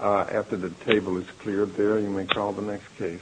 After the table is cleared there, you may call the next case.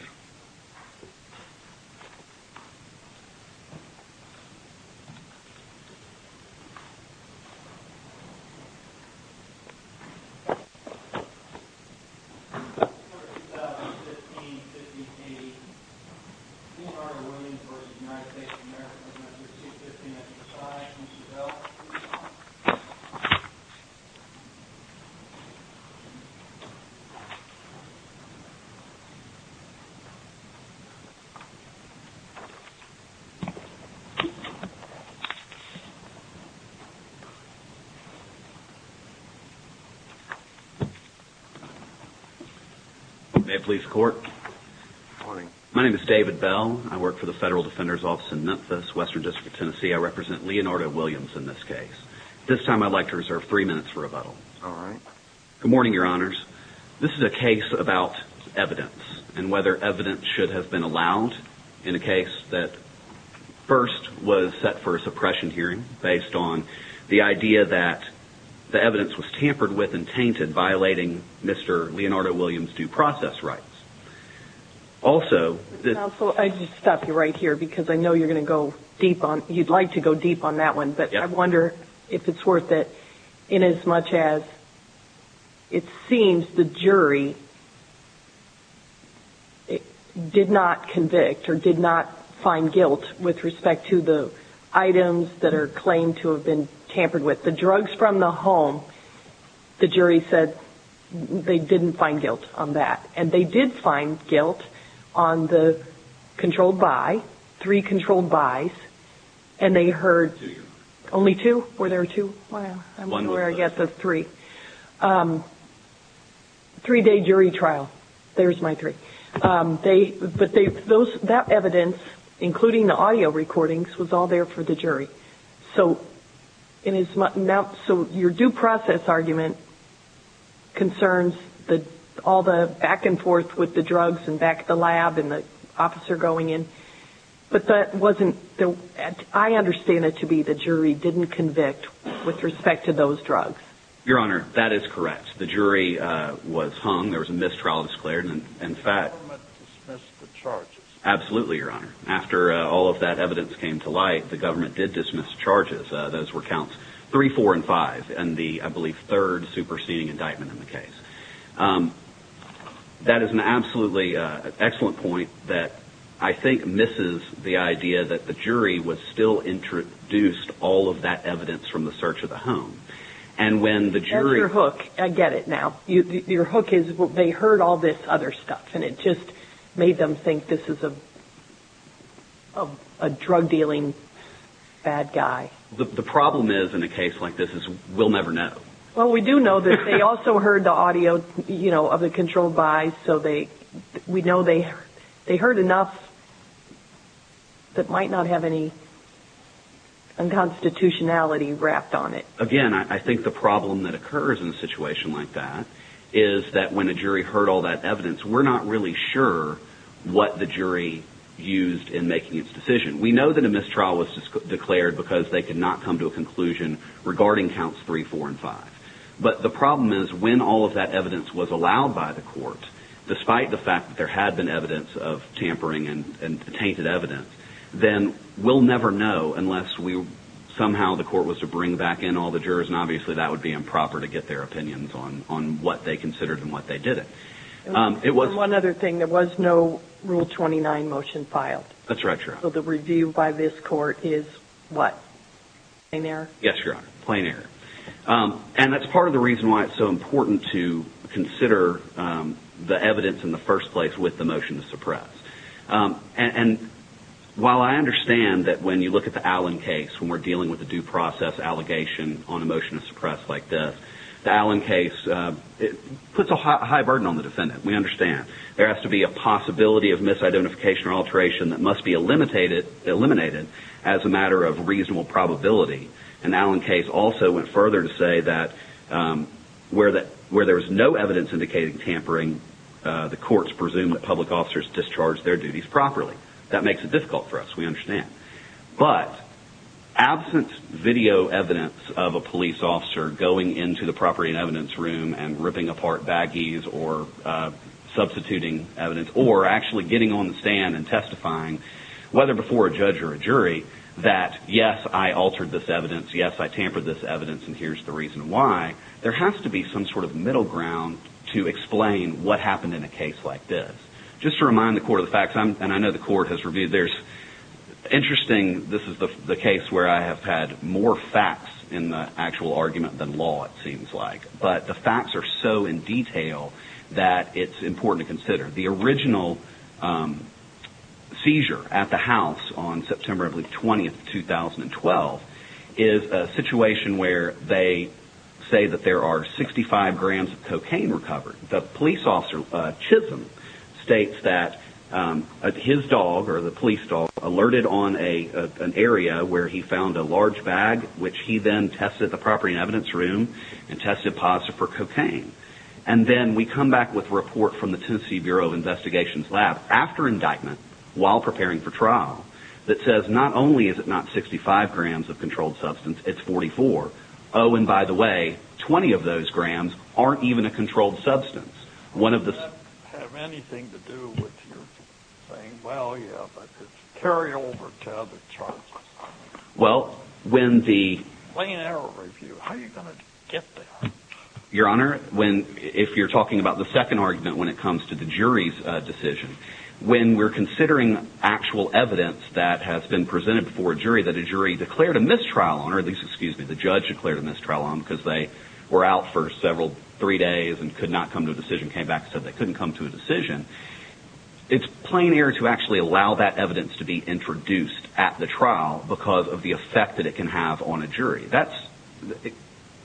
May it please the court. My name is David Bell. I work for the Federal Defender's Office in Memphis, Western District of Tennessee. I represent Leonardo Williams in this case. This time I'd like to reserve three minutes for rebuttal. Good morning, your honors. This is a case about evidence and whether evidence should have been allowed in a case that first was set for a suppression hearing based on the idea that the evidence was tampered with and tainted, violating Mr. Leonardo Williams' due process rights. Also... Counsel, I just stop you right here because I know you'd like to go deep on that one. But I wonder if it's worth it in as much as it seems the jury did not convict or did not find guilt with respect to the items that are claimed to have been tampered with. The drugs from the home, the jury said they didn't find guilt on that. And they did find guilt on the controlled by, three controlled bys. And they heard... Two. Only two? Were there two? One. I'm sure I got the three. Three day jury trial. There's my three. But that evidence, including the audio recordings, was all there for the jury. So your due process argument concerns all the back and forth with the drugs and back at the lab and the officer going in. But that wasn't... I understand it to be the jury didn't convict with respect to those drugs. Your Honor, that is correct. The jury was hung. There was a mistrial declared. And in fact... The government dismissed the charges. Absolutely, Your Honor. After all of that evidence came to light, the government did dismiss charges. Those were counts three, four, and five. And the, I believe, third superseding indictment in the case. That is an absolutely excellent point that I think misses the idea that the jury was still introduced all of that evidence from the search of the home. And when the jury... That's your hook. I get it now. Your hook is they heard all this other stuff. And it just made them think this is a drug dealing bad guy. The problem is, in a case like this, is we'll never know. Well, we do know that they also heard the audio of the controlled buys. So we know they heard enough that might not have any unconstitutionality wrapped on it. Again, I think the problem that occurs in a situation like that is that when a jury heard all that evidence, we're not really sure what the jury used in making its decision. We know that a mistrial was declared because they could not come to a conclusion regarding counts three, four, and five. But the problem is when all of that evidence was allowed by the court, despite the fact that there had been evidence of tampering and tainted evidence, then we'll never know unless somehow the court was to bring back in all the jurors, and obviously that would be improper to get their opinions on what they considered and what they didn't. And one other thing, there was no Rule 29 motion filed. That's right, Your Honor. So the review by this court is what? Plain error? Yes, Your Honor. Plain error. And that's part of the reason why it's so important to consider the evidence in the first place with the motion to suppress. And while I understand that when you look at the Allen case, when we're dealing with a due process allegation on a motion to suppress like this, the Allen case puts a high burden on the defendant, we understand. There has to be a possibility of misidentification or alteration that must be eliminated as a matter of reasonable probability. And the Allen case also went further to say that where there was no evidence indicating tampering, the courts presumed that public officers discharged their duties properly. That makes it difficult for us, we understand. But absent video evidence of a police officer going into the property and evidence room and ripping apart baggies or substituting evidence, or actually getting on the stand and testifying, whether before a judge or a jury, that yes, I altered this evidence, yes, I tampered this evidence, and here's the reason why, there has to be some sort of middle ground to explain what happened in a case like this. Just to remind the court of the facts, and I know the court has reviewed this, interesting, this is the case where I have had more facts in the actual argument than law, it seems like. But the facts are so in detail that it's important to consider. The original seizure at the house on September 20, 2012, is a situation where they say that there are 65 grams of cocaine recovered. The police officer, Chisholm, states that his dog, or the police dog, alerted on an area where he found a large bag, which he then tested the property and evidence room and tested positive for cocaine. And then we come back with a report from the Tennessee Bureau of Investigation's lab after indictment, while preparing for trial, that says not only is it not 65 grams of controlled substance, it's 44. Oh, and by the way, 20 of those grams aren't even a controlled substance. Does that have anything to do with you saying, well, yeah, but could you carry over to other charges? Well, when the... Plain error review, how are you going to get there? Your Honor, if you're talking about the second argument when it comes to the jury's decision, when we're considering actual evidence that has been presented before a jury that a jury declared a mistrial on, or at least, excuse me, the judge declared a mistrial on because they were out for several, three days and could not come to a decision, came back and said they couldn't come to a decision, it's plain error to actually allow that evidence to be introduced at the trial because of the effect that it can have on a jury.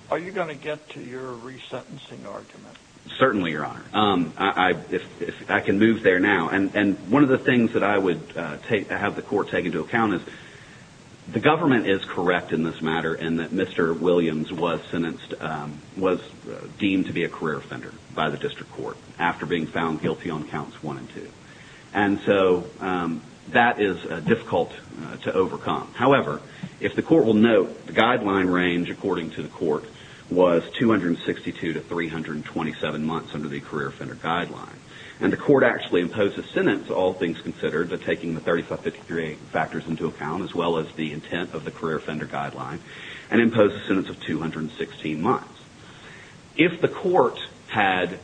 Are you going to get to your resentencing argument? Certainly, Your Honor. I can move there now. And one of the things that I would have the court take into account is the government is correct in this matter in that Mr. Williams was sentenced, was deemed to be a career offender by the district court after being found guilty on counts one and two. And so that is difficult to overcome. However, if the court will note, the guideline range, according to the court, was 262 to 327 months under the career offender guideline. And the court actually imposed a sentence, all things considered, but taking the 35-53 factors into account as well as the intent of the career offender guideline and imposed a sentence of 216 months. If the court had,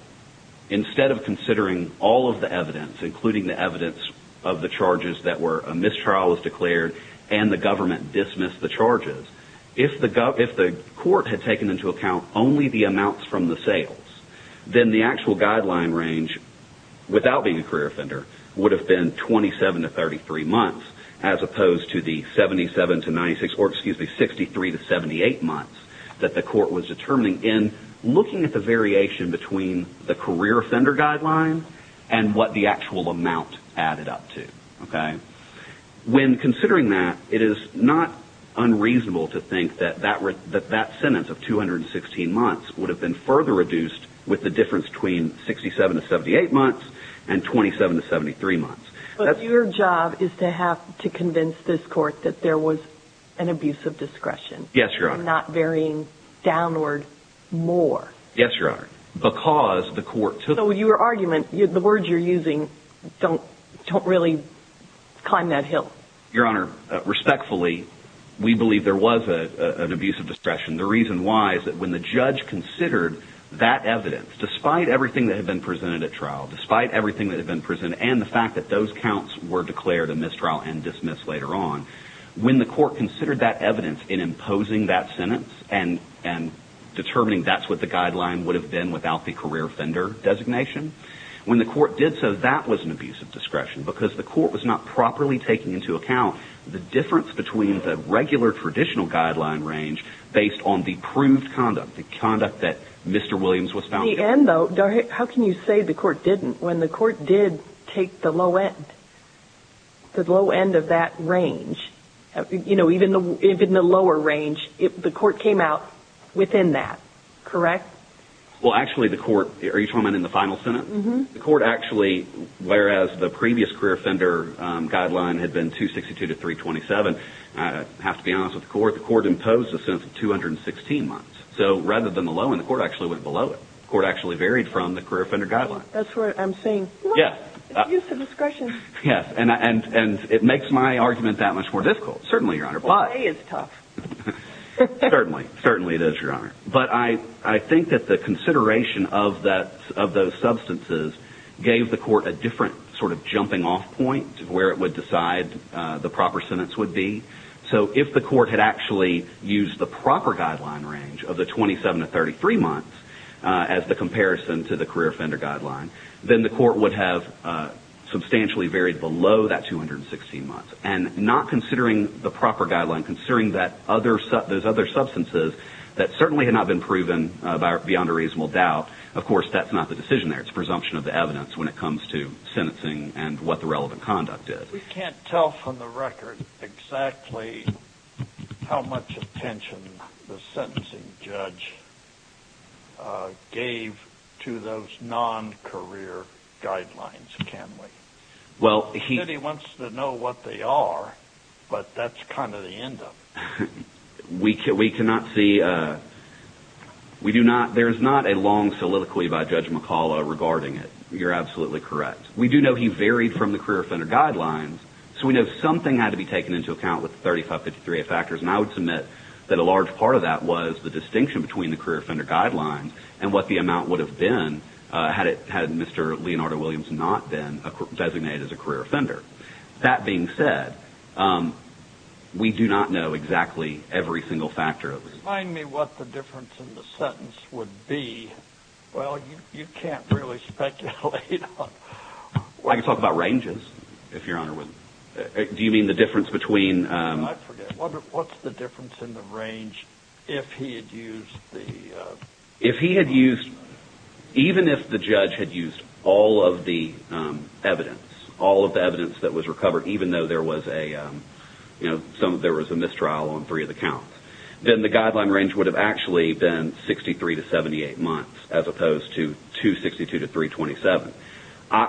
instead of considering all of the evidence, including the evidence of the charges that were a mistrial was declared and the government dismissed the charges, if the court had taken into account only the amounts from the sales, then the actual guideline range without being a career offender would have been 27 to 33 months as opposed to the 77 to 96, or excuse me, 63 to 78 months that the court was determining in looking at the variation between the career offender guideline and what the actual amount added up to. Okay? When considering that, it is not unreasonable to think that that sentence of 216 months would have been further reduced with the difference between 67 to 78 months and 27 to 73 months. But your job is to have to convince this court that there was an abuse of discretion. Yes, Your Honor. And not varying downward more. Yes, Your Honor. So your argument, the words you're using don't really climb that hill. Your Honor, respectfully, we believe there was an abuse of discretion. The reason why is that when the judge considered that evidence, despite everything that had been presented at trial, despite everything that had been presented, and the fact that those counts were declared a mistrial and dismissed later on, when the court considered that evidence in imposing that sentence and determining that's what the guideline would have been without the career offender designation, when the court did so, that was an abuse of discretion because the court was not properly taking into account the difference between the regular traditional guideline range based on the proved conduct, the conduct that Mr. Williams was found guilty of. In the end, though, how can you say the court didn't when the court did take the low end, the low end of that range? You know, even the lower range, the court came out within that, correct? Well, actually, the court, are you talking about in the final sentence? Mm-hmm. The court actually, whereas the previous career offender guideline had been 262 to 327, I have to be honest with the court, the court imposed a sentence of 216 months. So rather than the low end, the court actually went below it. The court actually varied from the career offender guideline. That's what I'm saying. Yes. Abuse of discretion. Yes, and it makes my argument that much more difficult. Certainly, Your Honor. Well, today is tough. Certainly. Certainly it is, Your Honor. But I think that the consideration of those substances gave the court a different sort of jumping off point to where it would decide the proper sentence would be. So if the court had actually used the proper guideline range of the 27 to 33 months as the comparison to the career offender guideline, then the court would have substantially varied below that 216 months. And not considering the proper guideline, considering those other substances that certainly had not been proven beyond a reasonable doubt, of course, that's not the decision there. It's a presumption of the evidence when it comes to sentencing and what the relevant conduct is. We can't tell from the record exactly how much attention the sentencing judge gave to those non-career guidelines, can we? Well, he wants to know what they are, but that's kind of the end of it. We cannot see. There is not a long soliloquy by Judge McCullough regarding it. You're absolutely correct. We do know he varied from the career offender guidelines, so we know something had to be taken into account with the 3553A factors, and I would submit that a large part of that was the distinction between the career offender guidelines and what the amount would have been had Mr. Leonardo Williams not been designated as a career offender. That being said, we do not know exactly every single factor. Remind me what the difference in the sentence would be. Well, you can't really speculate. I can talk about ranges, if Your Honor would. Do you mean the difference between... I forget. What's the difference in the range if he had used the... If he had used, even if the judge had used all of the evidence, all of the evidence that was recovered, even though there was a mistrial on three of the counts, then the guideline range would have actually been 63 to 78 months as opposed to 262 to 327.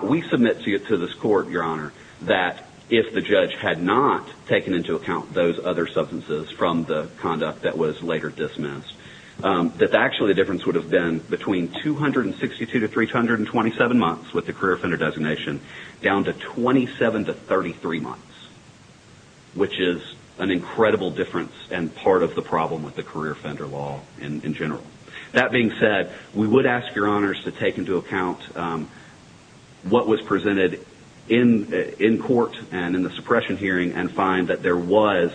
We submit to this court, Your Honor, that if the judge had not taken into account those other substances from the conduct that was later dismissed, that actually the difference would have been between 262 to 327 months with the career offender designation down to 27 to 33 months, which is an incredible difference and part of the problem with the career offender law in general. That being said, we would ask Your Honors to take into account what was presented in court and in the suppression hearing and find that there was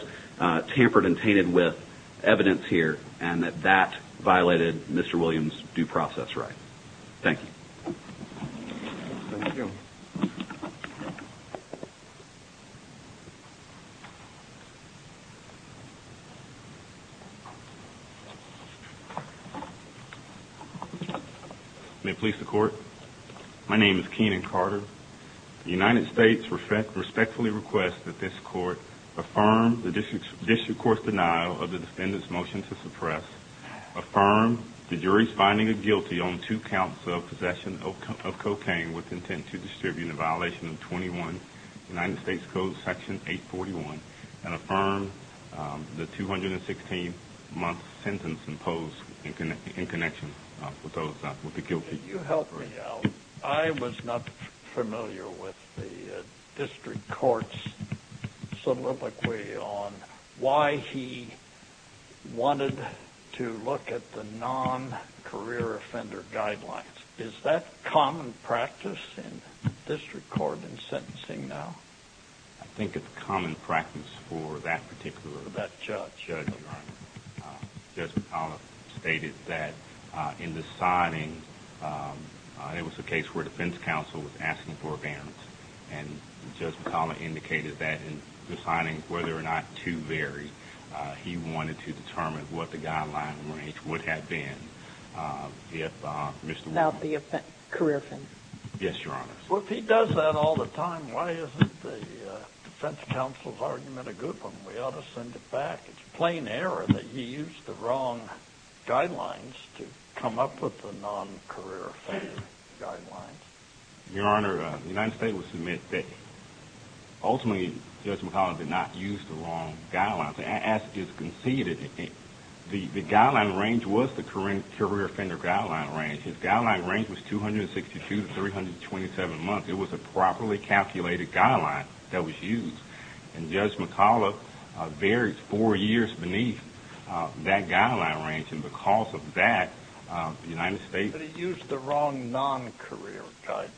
tampered and tainted with evidence here and that that violated Mr. Williams' due process right. Thank you. Thank you. May it please the court. My name is Keenan Carter. The United States respectfully requests that this court affirm the district court's denial of the defendant's motion to suppress, affirm the jury's finding of guilty on two counts of possession of cocaine with intent to distribute in violation of 21 United States Code Section 841 and affirm the 216-month sentence imposed in connection with the guilty. Could you help me out? I was not familiar with the district court's soliloquy on why he wanted to look at the non-career offender guidelines. Is that common practice in district court in sentencing now? I think it's common practice for that particular judge. Judge McCollough stated that in the signing, it was a case where defense counsel was asking for evidence and Judge McCollough indicated that in the signing, whether or not to vary, he wanted to determine what the guidelines would have been if Mr. Williams... Without the career offender. Yes, Your Honor. Well, if he does that all the time, why isn't the defense counsel's argument a good one? We ought to send it back. It's plain error that he used the wrong guidelines to come up with the non-career offender guidelines. Your Honor, the United States would submit that ultimately Judge McCollough did not use the wrong guidelines. As is conceded, the guideline range was the career offender guideline range. His guideline range was 262 to 327 months. It was a properly calculated guideline that was used. And Judge McCollough varies four years beneath that guideline range, and because of that, the United States... He used the wrong non-career guidelines.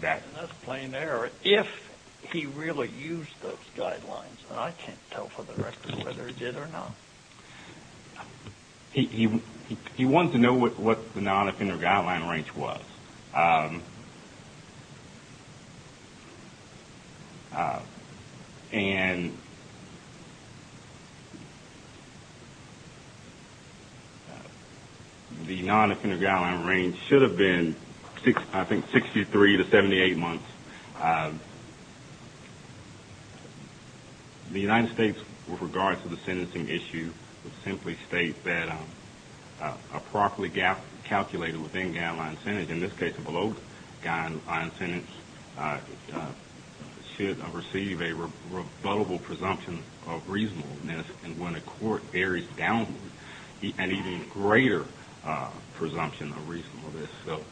That's plain error. If he really used those guidelines, and I can't tell for the record whether he did or not. He wanted to know what the non-offender guideline range was. And the non-offender guideline range should have been, I think, 63 to 78 months. The United States, with regard to the sentencing issue, would simply state that a properly calculated within-guideline sentence, in this case a below-guideline sentence, should receive a rebuttable presumption of reasonableness. And when a court varies downward, an even greater presumption of reasonableness. So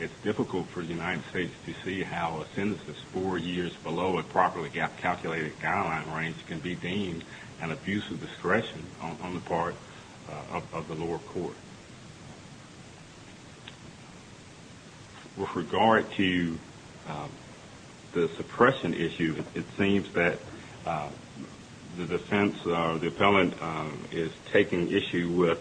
it's difficult for the United States to see how a sentence that's four years below a properly calculated guideline range can be deemed an abuse of discretion on the part of the lower court. With regard to the suppression issue, it seems that the defense or the appellant is taking issue with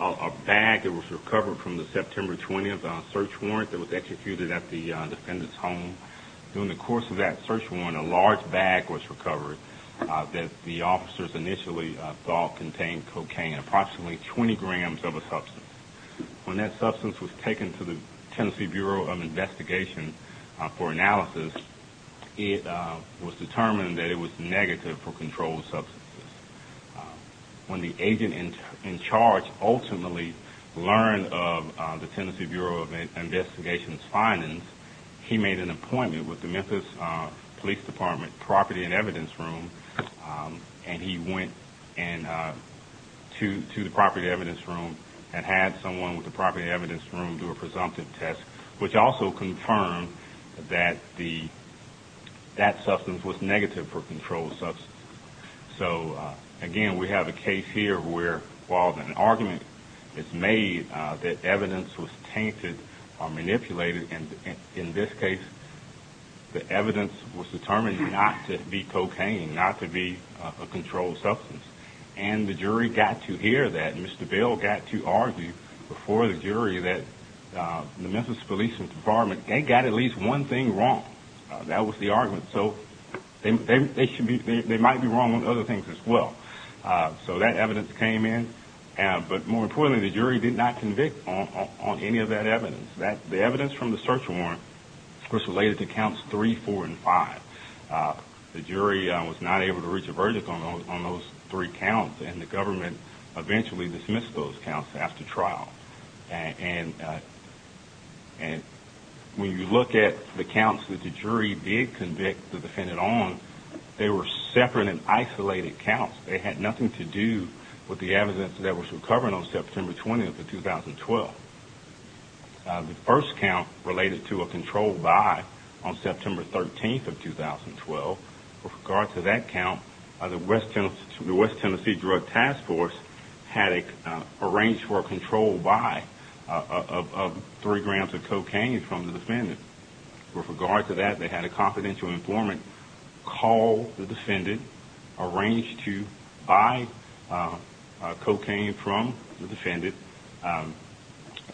a bag that was recovered from the September 20th search warrant that was executed at the defendant's home. During the course of that search warrant, a large bag was recovered that the officers initially thought contained cocaine, approximately 20 grams of a substance. When that substance was taken to the Tennessee Bureau of Investigation for analysis, it was determined that it was negative for controlled substances. When the agent in charge ultimately learned of the Tennessee Bureau of Investigation's findings, he made an appointment with the Memphis Police Department Property and Evidence Room, and he went to the Property and Evidence Room and had someone with the Property and Evidence Room do a presumptive test, which also confirmed that that substance was negative for controlled substances. So again, we have a case here where while an argument is made that evidence was tainted or manipulated and in this case the evidence was determined not to be cocaine, not to be a controlled substance. And the jury got to hear that. Mr. Bill got to argue before the jury that the Memphis Police Department, they got at least one thing wrong. That was the argument. So they might be wrong on other things as well. So that evidence came in, but more importantly, the jury did not convict on any of that evidence. The evidence from the search warrant was related to counts three, four, and five. The jury was not able to reach a verdict on those three counts, and the government eventually dismissed those counts after trial. And when you look at the counts that the jury did convict the defendant on, they were separate and isolated counts. They had nothing to do with the evidence that was recovered on September 20th of 2012. The first count related to a controlled buy on September 13th of 2012. With regard to that count, the West Tennessee Drug Task Force had arranged for a controlled buy of three grams of cocaine from the defendant. With regard to that, they had a confidential informant call the defendant, arrange to buy cocaine from the defendant.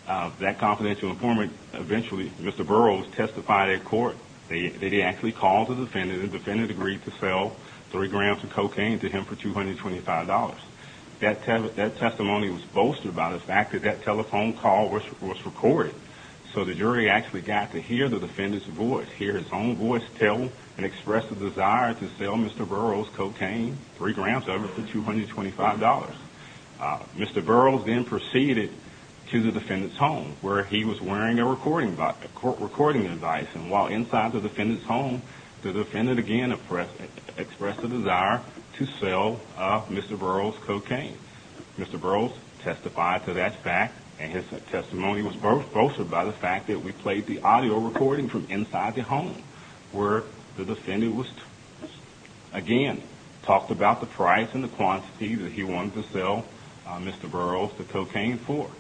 That confidential informant eventually, Mr. Burroughs, testified at court. They actually called the defendant. The defendant agreed to sell three grams of cocaine to him for $225. That testimony was bolstered by the fact that that telephone call was recorded. So the jury actually got to hear the defendant's voice, hear his own voice tell and express a desire to sell Mr. Burroughs cocaine, three grams of it, for $225. Mr. Burroughs then proceeded to the defendant's home, where he was wearing a recording device. And while inside the defendant's home, the defendant again expressed a desire to sell Mr. Burroughs cocaine. Mr. Burroughs testified to that fact, and his testimony was bolstered by the fact that we played the audio recording from inside the home, where the defendant again talked about the price and the quantity that he wanted to sell Mr. Burroughs the cocaine for.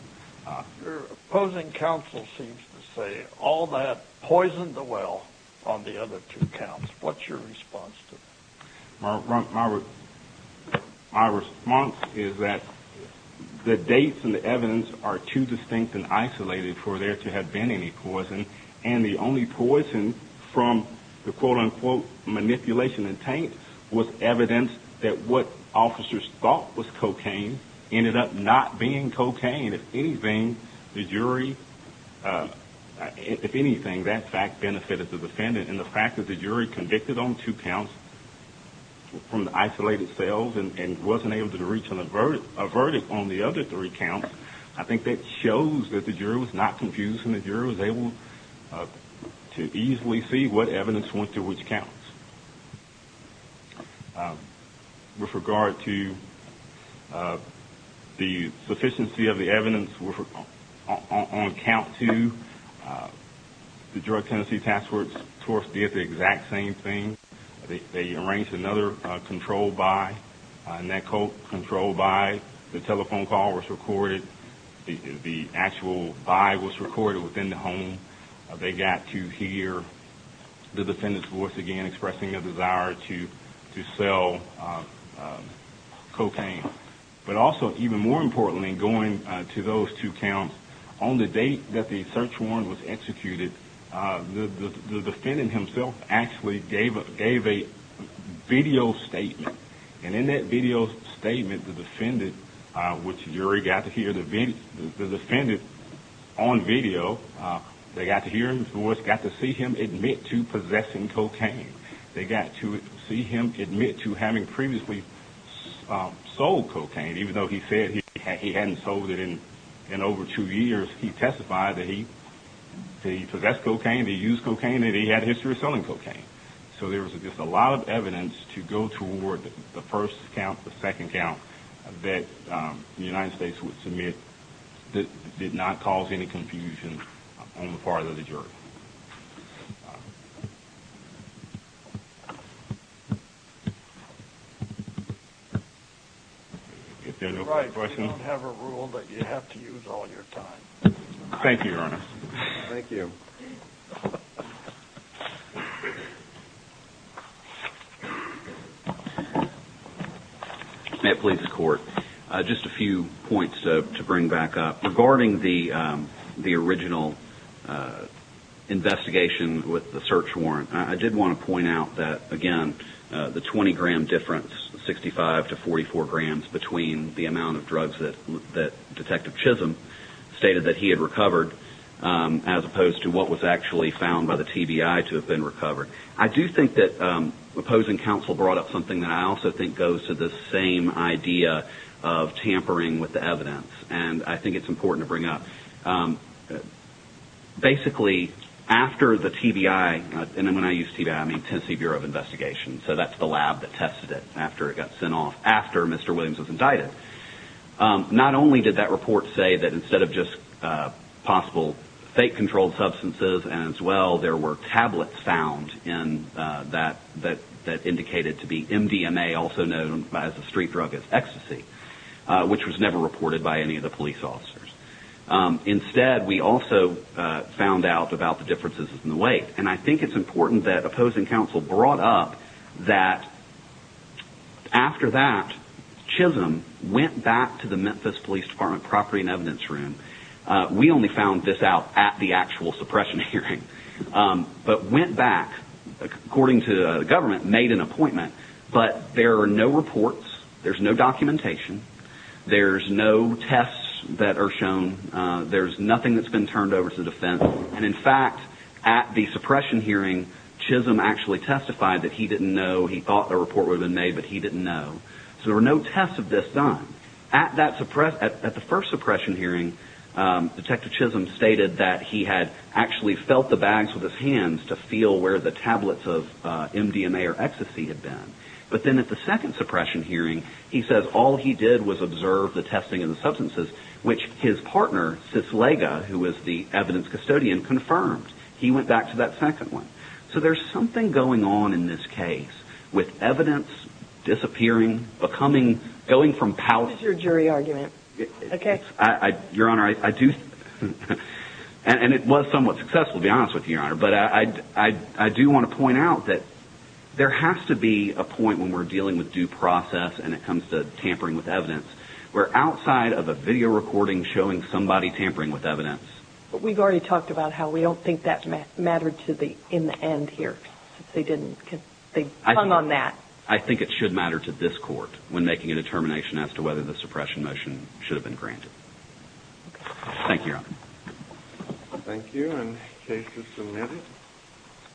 Your opposing counsel seems to say all that poisoned the well on the other two counts. What's your response to that? My response is that the dates and the evidence are too distinct and isolated for there to have been any poison. And the only poison from the quote-unquote manipulation and taint was evidence that what officers thought was cocaine ended up not being cocaine. If anything, the jury – if anything, that fact benefited the defendant, and the fact that the jury convicted on two counts from the isolated sales and wasn't able to reach a verdict on the other three counts, I think that shows that the jury was not confused and the jury was able to easily see what evidence went to which counts. With regard to the sufficiency of the evidence on count two, the Drug Tennessee Task Force did the exact same thing. They arranged another controlled buy, and that controlled buy, the telephone call was recorded, the actual buy was recorded within the home. They got to hear the defendant's voice again expressing a desire to sell cocaine. But also, even more importantly, going to those two counts, on the date that the search warrant was executed, the defendant himself actually gave a video statement. And in that video statement, the defendant, which the jury got to hear the defendant on video, they got to hear him voice, got to see him admit to possessing cocaine. They got to see him admit to having previously sold cocaine, even though he said he hadn't sold it in over two years. He testified that he possessed cocaine, that he used cocaine, that he had a history of selling cocaine. So there was just a lot of evidence to go toward the first count, the second count, that the United States would submit that did not cause any confusion on the part of the jury. If there are no further questions? All right. You don't have a rule that you have to use all your time. Thank you, Your Honor. Thank you. Thank you. May it please the Court, just a few points to bring back up. Regarding the original investigation with the search warrant, I did want to point out that, again, the 20-gram difference, 65 to 44 grams, between the amount of drugs that Detective Chisholm stated that he had recovered, as opposed to what was actually found by the TBI to have been recovered. I do think that opposing counsel brought up something that I also think goes to the same idea of tampering with the evidence, and I think it's important to bring up. Basically, after the TBI, and when I use TBI, I mean Tennessee Bureau of Investigation, so that's the lab that tested it after it got sent off, after Mr. Williams was indicted. Not only did that report say that instead of just possible fake controlled substances as well, there were tablets found that indicated to be MDMA, also known as a street drug, as ecstasy, which was never reported by any of the police officers. Instead, we also found out about the differences in the weight, and I think it's important that opposing counsel brought up that after that, Chisholm went back to the Memphis Police Department Property and Evidence Room. We only found this out at the actual suppression hearing, but went back, according to the government, made an appointment, but there are no reports, there's no documentation, there's no tests that are shown, there's nothing that's been turned over to defense, and in fact, at the suppression hearing, Chisholm actually testified that he didn't know, he thought a report would have been made, but he didn't know. So there were no tests of this done. At the first suppression hearing, Detective Chisholm stated that he had actually felt the bags with his hands to feel where the tablets of MDMA or ecstasy had been, but then at the second suppression hearing, he says all he did was observe the testing of the substances, which his partner, Sislega, who was the evidence custodian, confirmed. He went back to that second one. So there's something going on in this case with evidence disappearing, going from palace... This is your jury argument. Your Honor, I do, and it was somewhat successful, to be honest with you, Your Honor, but I do want to point out that there has to be a point when we're dealing with due process and it comes to tampering with evidence where outside of a video recording showing somebody tampering with evidence... But we've already talked about how we don't think that mattered in the end here. They hung on that. I think it should matter to this Court when making a determination as to whether the suppression motion should have been granted. Thank you, Your Honor. Thank you, and case is submitted.